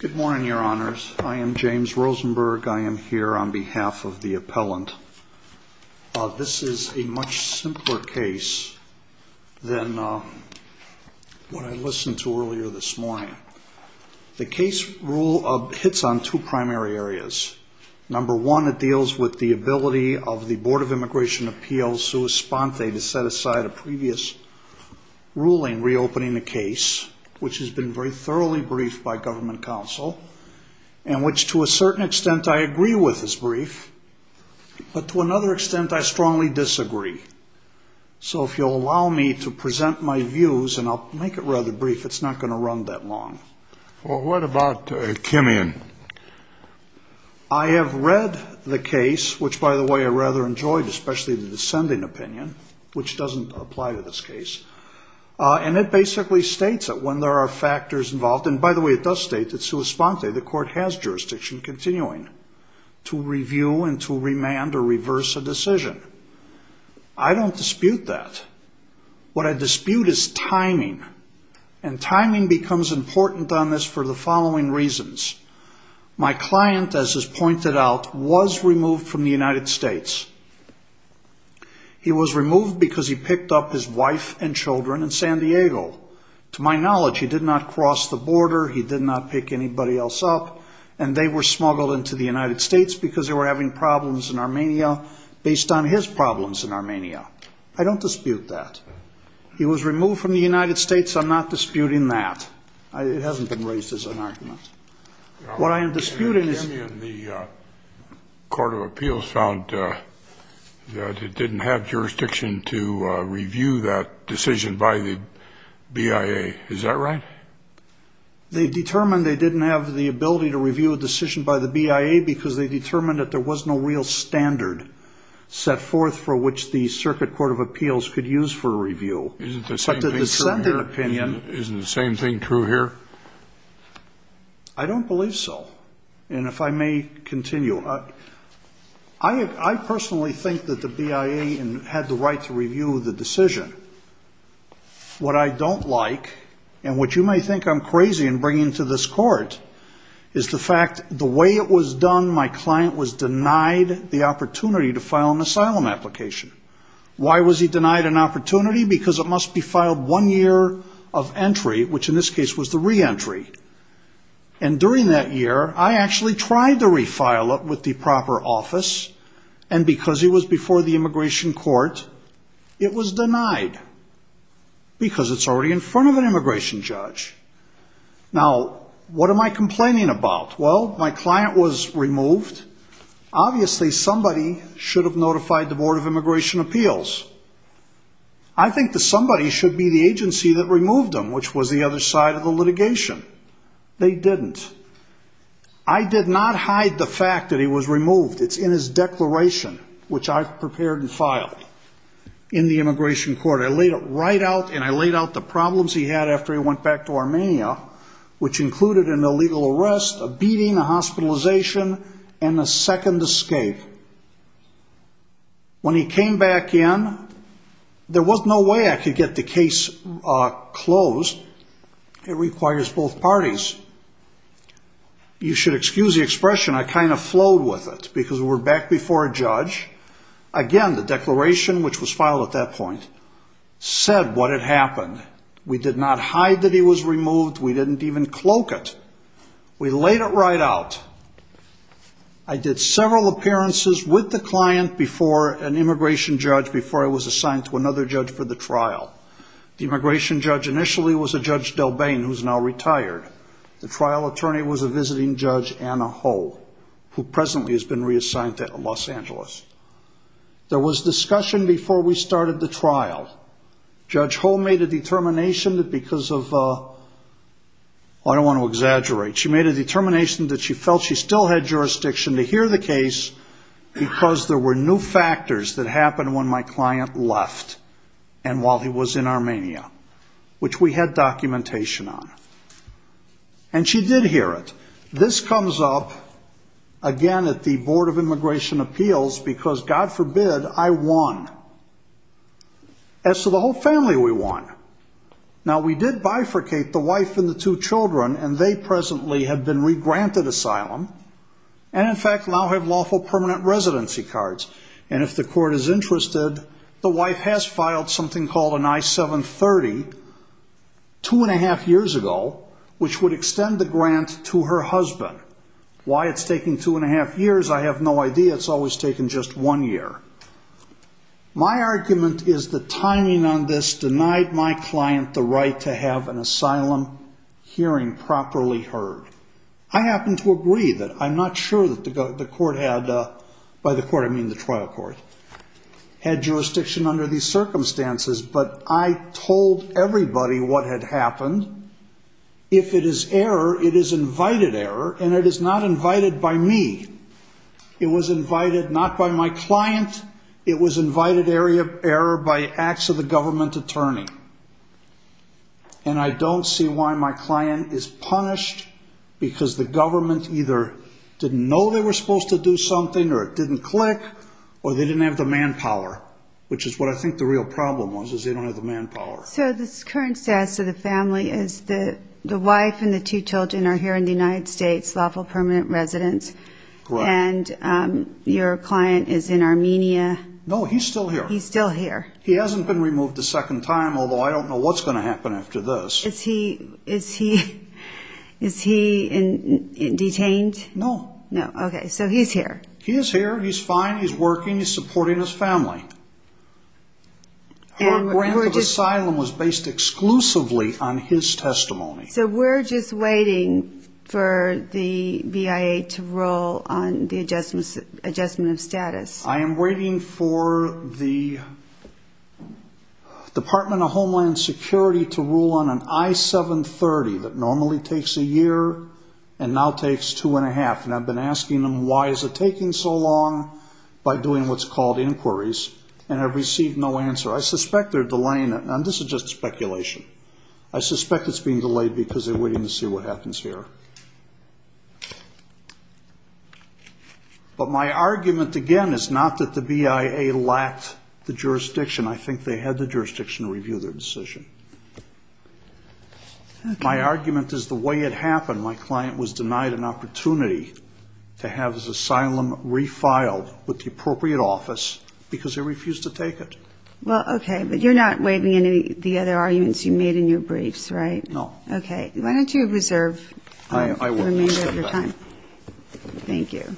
Good morning, your honors. I am James Rosenberg. I am here on behalf of the appellant. This is a much simpler case than what I listened to earlier this morning. The case hits on two primary areas. Number one, it deals with the ability of the Board of Immigration Appeals, sua sponte, to set aside a previous ruling reopening the case, which has been very in which to a certain extent I agree with his brief, but to another extent I strongly disagree. So if you'll allow me to present my views, and I'll make it rather brief, it's not going to run that long. Well, what about Kimian? I have read the case, which by the way, I rather enjoyed, especially the descending opinion, which doesn't apply to this case. And it basically states that when there are factors involved, and by the way, it does state that sua sponte, the court has jurisdiction continuing to review and to remand or reverse a decision. I don't dispute that. What I dispute is timing. And timing becomes important on this for the following reasons. My client, as is pointed out, was removed from the United States. He was removed because he picked up his wife and children in San Diego. To my knowledge, he did not cross the border. He did not pick anybody else up. And they were smuggled into the United States because they were having problems in Armenia based on his problems in Armenia. I don't dispute that. He was removed from the United States. I'm not disputing that. It hasn't been raised as an argument. What I am disputing is... Senator Kimian, the Court of Appeals found that it didn't have jurisdiction to review a decision by the BIA. They determined they didn't have the ability to review a decision by the BIA because they determined that there was no real standard set forth for which the Circuit Court of Appeals could use for review. Isn't the same thing true here? I don't believe so. And if I may continue, I personally think that the BIA had the right to review the decision. What I don't like, and what you may think I'm crazy in bringing to this court, is the fact the way it was done, my client was denied the opportunity to file an asylum application. Why was he denied an opportunity? Because it must be filed one year of entry, which in this case was the reentry. And during that year, I actually tried to refile it with the proper office, and because he was before the immigration court, it was denied. Because it's already in front of an immigration judge. Now, what am I complaining about? Well, my client was removed. Obviously somebody should have notified the Board of Immigration Appeals. I think that somebody should be the agency that removed him, which was the other side of the It's in his declaration, which I prepared and filed in the immigration court. I laid it right out, and I laid out the problems he had after he went back to Armenia, which included an illegal arrest, a beating, a hospitalization, and a second escape. When he came back in, there was no way I could get the case closed. It requires both parties. You should excuse the expression I kind of flowed with it, because we were back before a judge. Again, the declaration, which was filed at that point, said what had happened. We did not hide that he was removed. We didn't even cloak it. We laid it right out. I did several appearances with the client before an immigration judge, before I was assigned to another judge for the trial. The immigration judge initially was a The trial attorney was a visiting judge, Anna Ho, who presently has been reassigned to Los Angeles. There was discussion before we started the trial. Judge Ho made a determination that because of I don't want to exaggerate. She made a determination that she felt she still had jurisdiction to hear the case, because there were new factors that happened when my client left and while he was in Armenia, which we had documentation on. And she did hear it. This comes up again at the Board of Immigration Appeals, because God forbid, I won. As to the whole family, we won. Now, we did bifurcate the wife and the two children, and they presently have been regranted asylum, and in fact now have lawful permanent residency cards. And if the court is interested, the wife has filed something called an I-730, two and a half years ago, which would extend the grant to her husband. Why it's taking two and a half years, I have no idea. It's always taken just one year. My argument is the timing on this denied my client the right to have an asylum hearing properly heard. I happen to agree that I'm not sure that the court had, by the court I mean the trial court, had jurisdiction under these circumstances, but I told everybody what had happened. If it is error, it is invited error, and it is not invited by me. It was invited not by my client, it was invited error by acts of the government attorney. And I don't see why my client is punished, because the government either didn't know they were going to have the manpower, which is what I think the real problem was, is they don't have the manpower. So the current status of the family is the wife and the two children are here in the United States, lawful permanent residence, and your client is in Armenia. No, he's still here. He's still here. He hasn't been removed a second time, although I don't know what's going to happen after this. Is he detained? No. No, okay, so he's here. He is here, he's fine, he's working, he's supporting his family. Her grant of asylum was based exclusively on his testimony. So we're just waiting for the BIA to rule on the adjustment of status. I am waiting for the Department of Homeland Security to rule on an I-730 that normally takes a year and now takes two and a half, and I've been asking them why is it taking so long by doing what's called inquiries, and I've received no answer. I suspect they're delaying it, and this is just speculation. I suspect it's being delayed because they're waiting to see what happens here. But my argument, again, is not that the BIA lacked the jurisdiction. I think they had the jurisdiction to review their decision. Okay. My argument is the way it happened. My client was denied an opportunity to have his asylum refiled with the appropriate office because they refused to take it. Well, okay, but you're not waiving any of the other arguments you made in your briefs, right? No. Okay. Why don't you reserve the remainder of your time? Thank you.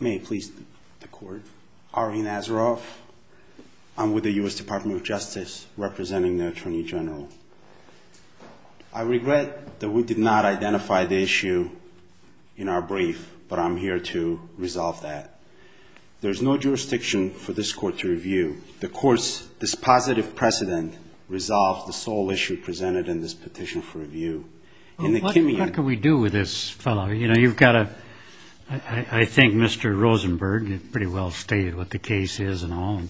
May it please the Court. Ari Nazaroff. I'm with the U.S. Department of Justice representing the Attorney General. I regret that we did not identify the issue in our brief, but I'm here to resolve that. This positive precedent resolved the sole issue presented in this petition for review. What can we do with this fellow? I think Mr. Rosenberg pretty well stated what the case is and all,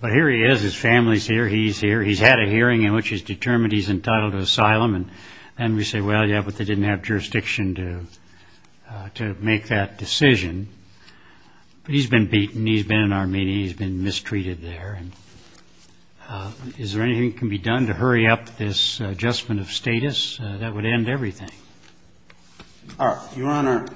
but here he is. His family's here. He's here. He's had a hearing in which he's determined he's entitled to asylum, and we say, well, yeah, but they didn't have jurisdiction to make that decision. But he's been beaten. He's been in our meeting. He's been mistreated there, and is there anything that can be done to hurry up this adjustment of status? That would end everything. All right. Your Honor,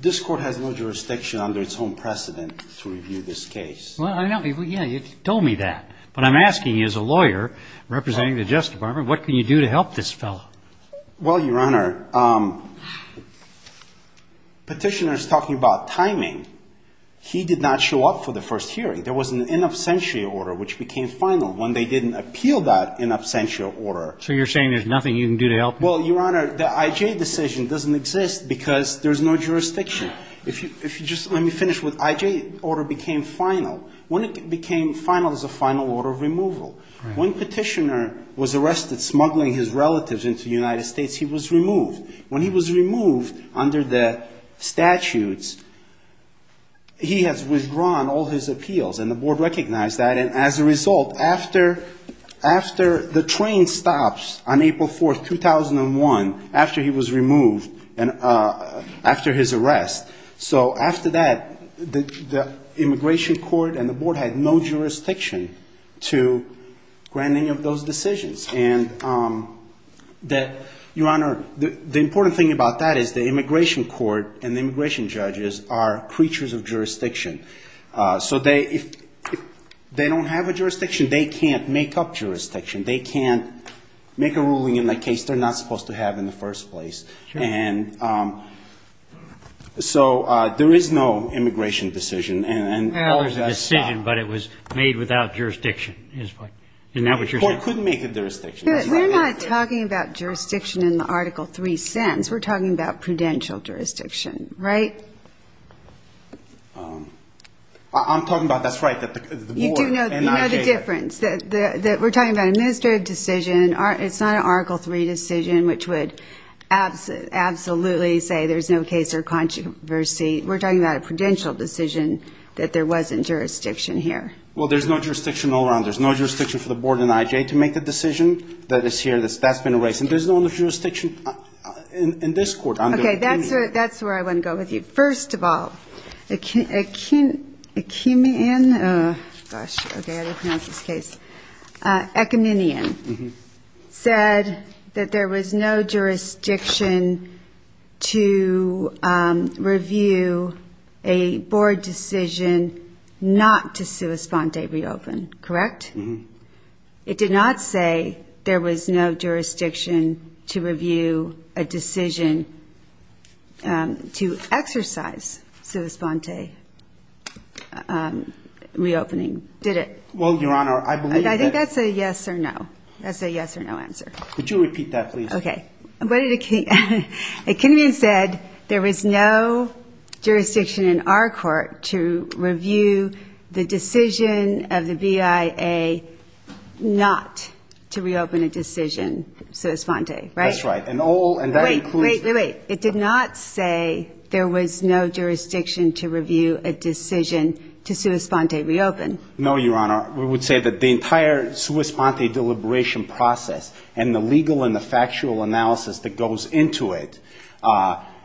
this Court has no jurisdiction under its own precedent to review this case. Well, I know. Yeah, you told me that, but I'm asking you as a lawyer representing the Justice Department, what can you do to help this fellow? Well, Your Honor, Petitioner's talking about timing. He did not show up for the first hearing. There was an in absentia order which became final when they didn't appeal that in absentia order. So you're saying there's nothing you can do to help him? Well, Your Honor, the IJ decision doesn't exist because there's no jurisdiction. If you just let me finish with IJ order became final. When it became final is a final order of removal. When Petitioner was arrested smuggling his relatives into the United States, he was removed. When he was removed under the statutes, he has withdrawn all his appeals, and the Board recognized that. And as a result, after the train stops on April 4, 2001, after he was removed and after his arrest. So after that, the Immigration Court and the Board had no jurisdiction to grant any of those decisions. And Your Honor, the important thing about that is the Immigration Court and the immigration judges are creatures of jurisdiction. So if they don't have a jurisdiction, they can't make up jurisdiction. They can't make a ruling in the case they're not supposed to have in the first place. And so there is no immigration decision. Well, there's a decision, but it was made without jurisdiction. Isn't that what you're saying? The Court couldn't make a jurisdiction. We're not talking about jurisdiction in the Article III sense. We're talking about prudential jurisdiction, right? I'm talking about, that's right, the Board and IJ. You do know the difference. We're talking about an administrative decision. It's not an Article III decision, which would absolutely say there's no case or controversy. We're talking about a prudential decision that there wasn't jurisdiction here. Well, there's no jurisdiction all around. There's no jurisdiction for the Board and IJ to make the decision that is here. That's been erased. And there's no jurisdiction in this Court. Okay, that's where I want to go with you. First of all, Akinion said that there was no jurisdiction to review a Board decision not to sua sponde reopen, correct? It did not say there was no jurisdiction to review a decision to exercise sua sponde reopening, did it? Well, Your Honor, I believe that... I think that's a yes or no. That's a yes or no answer. Could you repeat that, please? Okay. Akinion said there was no jurisdiction in our Court to review the decision of the BIA not to reopen a decision sua sponde, right? That's right. And all... Wait, wait, wait. It did not say there was no jurisdiction to review a decision to sua sponde reopen. No, Your Honor. We would say that the entire sua sponde deliberation process and the legal and the factual analysis that goes into it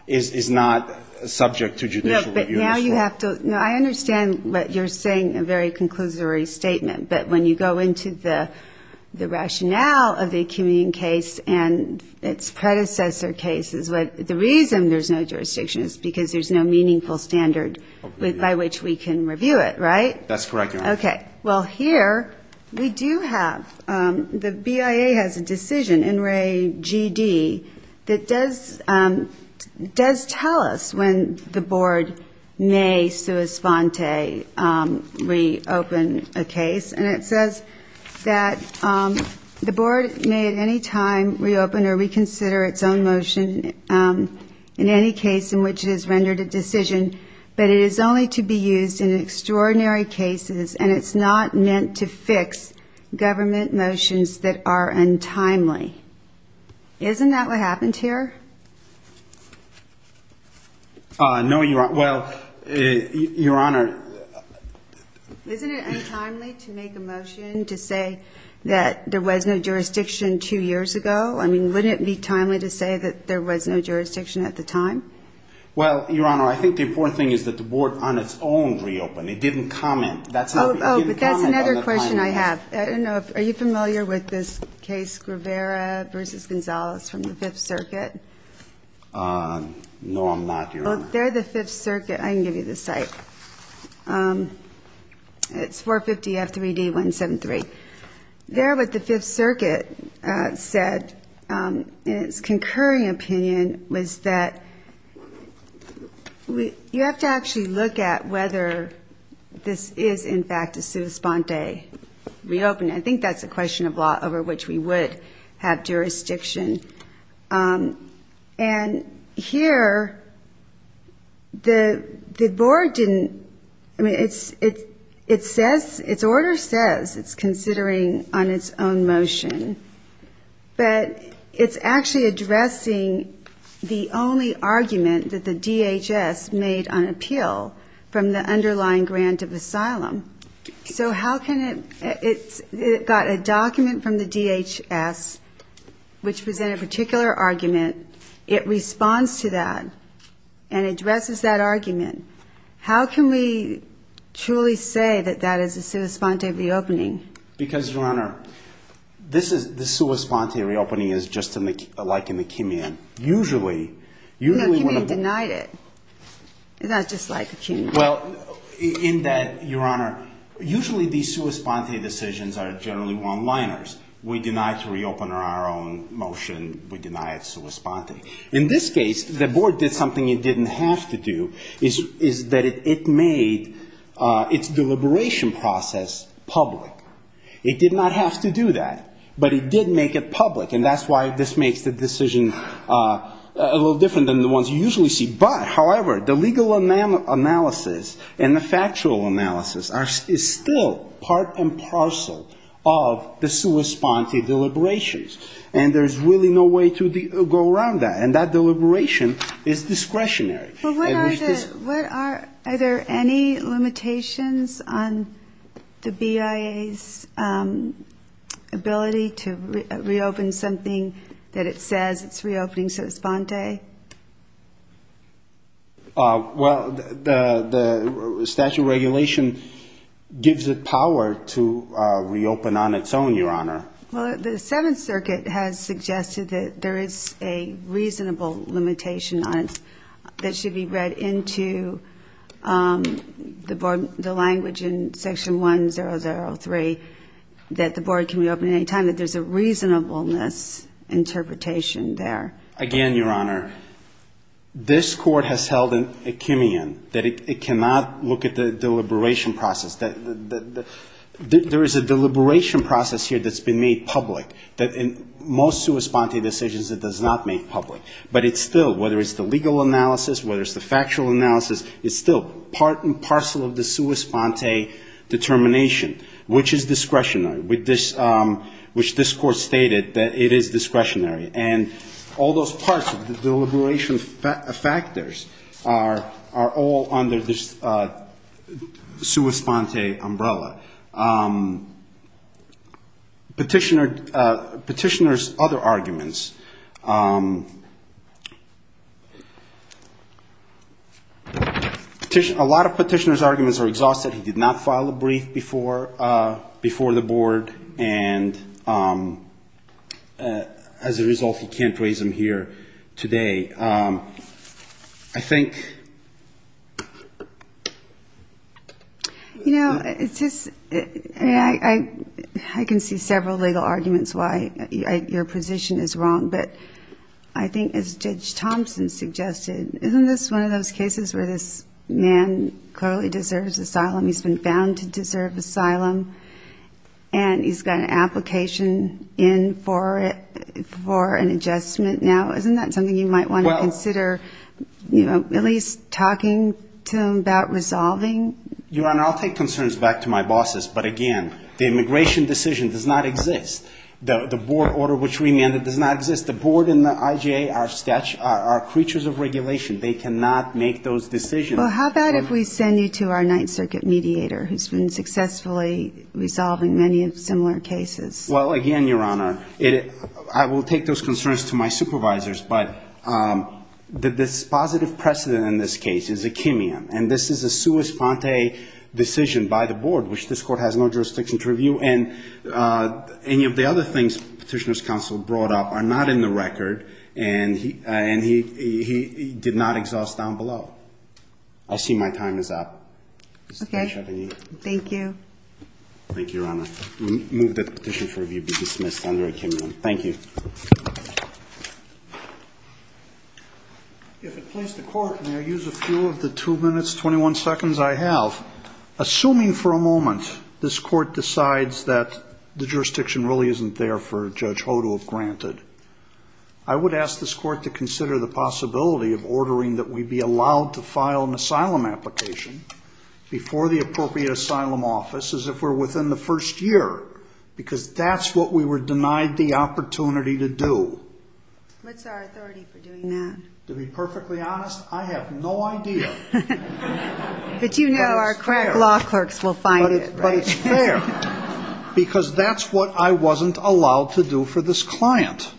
is not subject to judicial review. No, but now you have to... I understand what you're saying, a very conclusory statement. But when you go into the rationale of the Akinion case and its predecessor cases, the reason there's no jurisdiction is because there's no meaningful standard by which we can review it, right? That's correct, Your Honor. Okay. Well, here we do have... The BIA has a decision in Re GD that does tell us when the Board may sua sponde reopen a case. And it says that the Board may at any time reopen or reconsider its own motion in any case in which it has rendered a decision, but it is only to be used in extraordinary cases. And it's not meant to fix government motions that are untimely. Isn't that what happened here? No, Your Honor. Well, Your Honor... Isn't it untimely to make a motion to say that there was no jurisdiction two years ago? I mean, wouldn't it be timely to say that there was no jurisdiction at the time? Well, Your Honor, I think the important thing is that the Board on its own reopened. It didn't comment. Oh, but that's another question I have. I don't know if... Are you familiar with this case Guevara versus Gonzalez from the Fifth Circuit? No, I'm not, Your Honor. They're the Fifth Circuit. I can give you the site. It's 450 F3D 173. There, what the Fifth Circuit said in its concurring opinion was that you have to actually look at whether this is, in fact, a sua sponte reopening. I think that's a question of law over which we would have jurisdiction. And here, the Board didn't... I mean, its order says it's considering on its own motion, but it's actually addressing the only argument that the DHS made on appeal from the underlying grant of asylum. So how can it... It got a document from the DHS which presented a particular argument. It responds to that and addresses that argument. How can we truly say that that is a sua sponte reopening? Because, Your Honor, this sua sponte reopening is just like in the Kimian. Usually, usually... No, Kimian denied it. It's not just like the Kimian. Well, in that, Your Honor, usually these sua sponte decisions are generally one-liners. We deny to reopen on our own motion. We deny it sua sponte. In this case, the Board did something it didn't have to do, is that it made its deliberation process public. It did not have to do that, but it did make it public. And that's why this makes the decision a little different than the ones you usually see. But, however, the legal analysis and the factual analysis is still part and parcel of the sua sponte deliberations. And there's really no way to go around that. And that deliberation is discretionary. What are, are there any limitations on the BIA's ability to reopen something that it says it's reopening sua sponte? Well, the statute of regulation gives it power to reopen on its own, Your Honor. Well, the Seventh Circuit has suggested that there is a reasonable limitation on it that should be read into the language in Section 1003, that the Board can reopen at any time, that there's a reasonableness interpretation there. Again, Your Honor, this Court has held an echemion, that it cannot look at the deliberation process. There is a deliberation process here that's been made public, that in most sua sponte decisions it does not make public. But it's still, whether it's the legal analysis, whether it's the factual analysis, it's still part and parcel of the sua sponte determination, which is discretionary, which this Court stated that it is discretionary. And all those parts of the deliberation factors are all under this sua sponte umbrella. Petitioner's other arguments, a lot of petitioner's arguments are exhausted. He did not file a brief before the Board, and as a result, he can't raise them here today. I think... You know, I can see several legal arguments why your position is wrong, but I think as Judge Thompson suggested, isn't this one of those cases where this man clearly deserves asylum? He's been found to deserve asylum, and he's got an application in for an adjustment now. Isn't that something you might want to consider, at least talking to him about resolving? Your Honor, I'll take concerns back to my bosses. But again, the immigration decision does not exist. The Board order which we amended does not exist. The Board and the IJA are creatures of regulation. They cannot make those decisions. Well, how about if we send you to our Ninth Circuit mediator, who's been successfully resolving many similar cases? Well, again, Your Honor, I will take those concerns to my supervisors, but the dispositive precedent in this case is akimian, and this is a sua sponte decision by the Board, which this Court has no jurisdiction to review, and any of the other things Petitioner's Counsel brought up are not in the record, and he did not exhaust down below. Thank you. Thank you, Your Honor. Move that petition for review be dismissed under akimian. Thank you. If it please the Court, may I use a few of the two minutes, 21 seconds I have? Assuming for a moment this Court decides that the jurisdiction really isn't there for Judge Ho to have granted, I would ask this Court to consider the possibility of ordering that we be allowed to file an asylum application before the appropriate asylum office, as if we're within the first year, because that's what we were denied the opportunity to do. What's our authority for doing that? To be perfectly honest, I have no idea. But you know our crack law clerks will find it, right? But it's fair, because that's what I wasn't allowed to do for this client,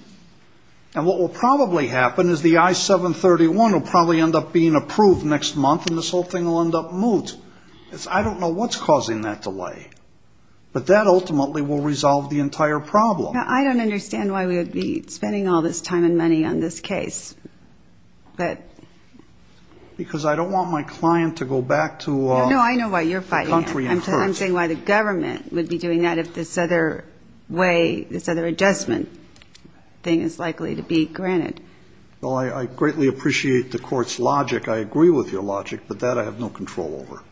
and what will probably happen is the I-731 will probably end up being approved next month, and this whole thing will end up moot. I don't know what's causing that delay, but that ultimately will resolve the entire problem. Now, I don't understand why we would be spending all this time and money on this case. Because I don't want my client to go back to the country and court. No, I know why you're fighting. I'm saying why the government would be doing that if this other way, this other adjustment thing is likely to be granted. Well, I greatly appreciate the Court's logic. I agree with your logic, but that I have no control over.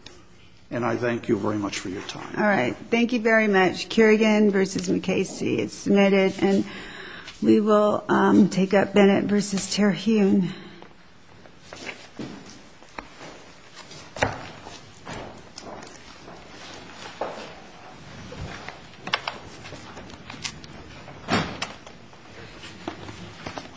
And I thank you very much for your time. All right. Thank you very much. Kerrigan v. McCasey. It's submitted, and we will take up Bennett v. Terhune.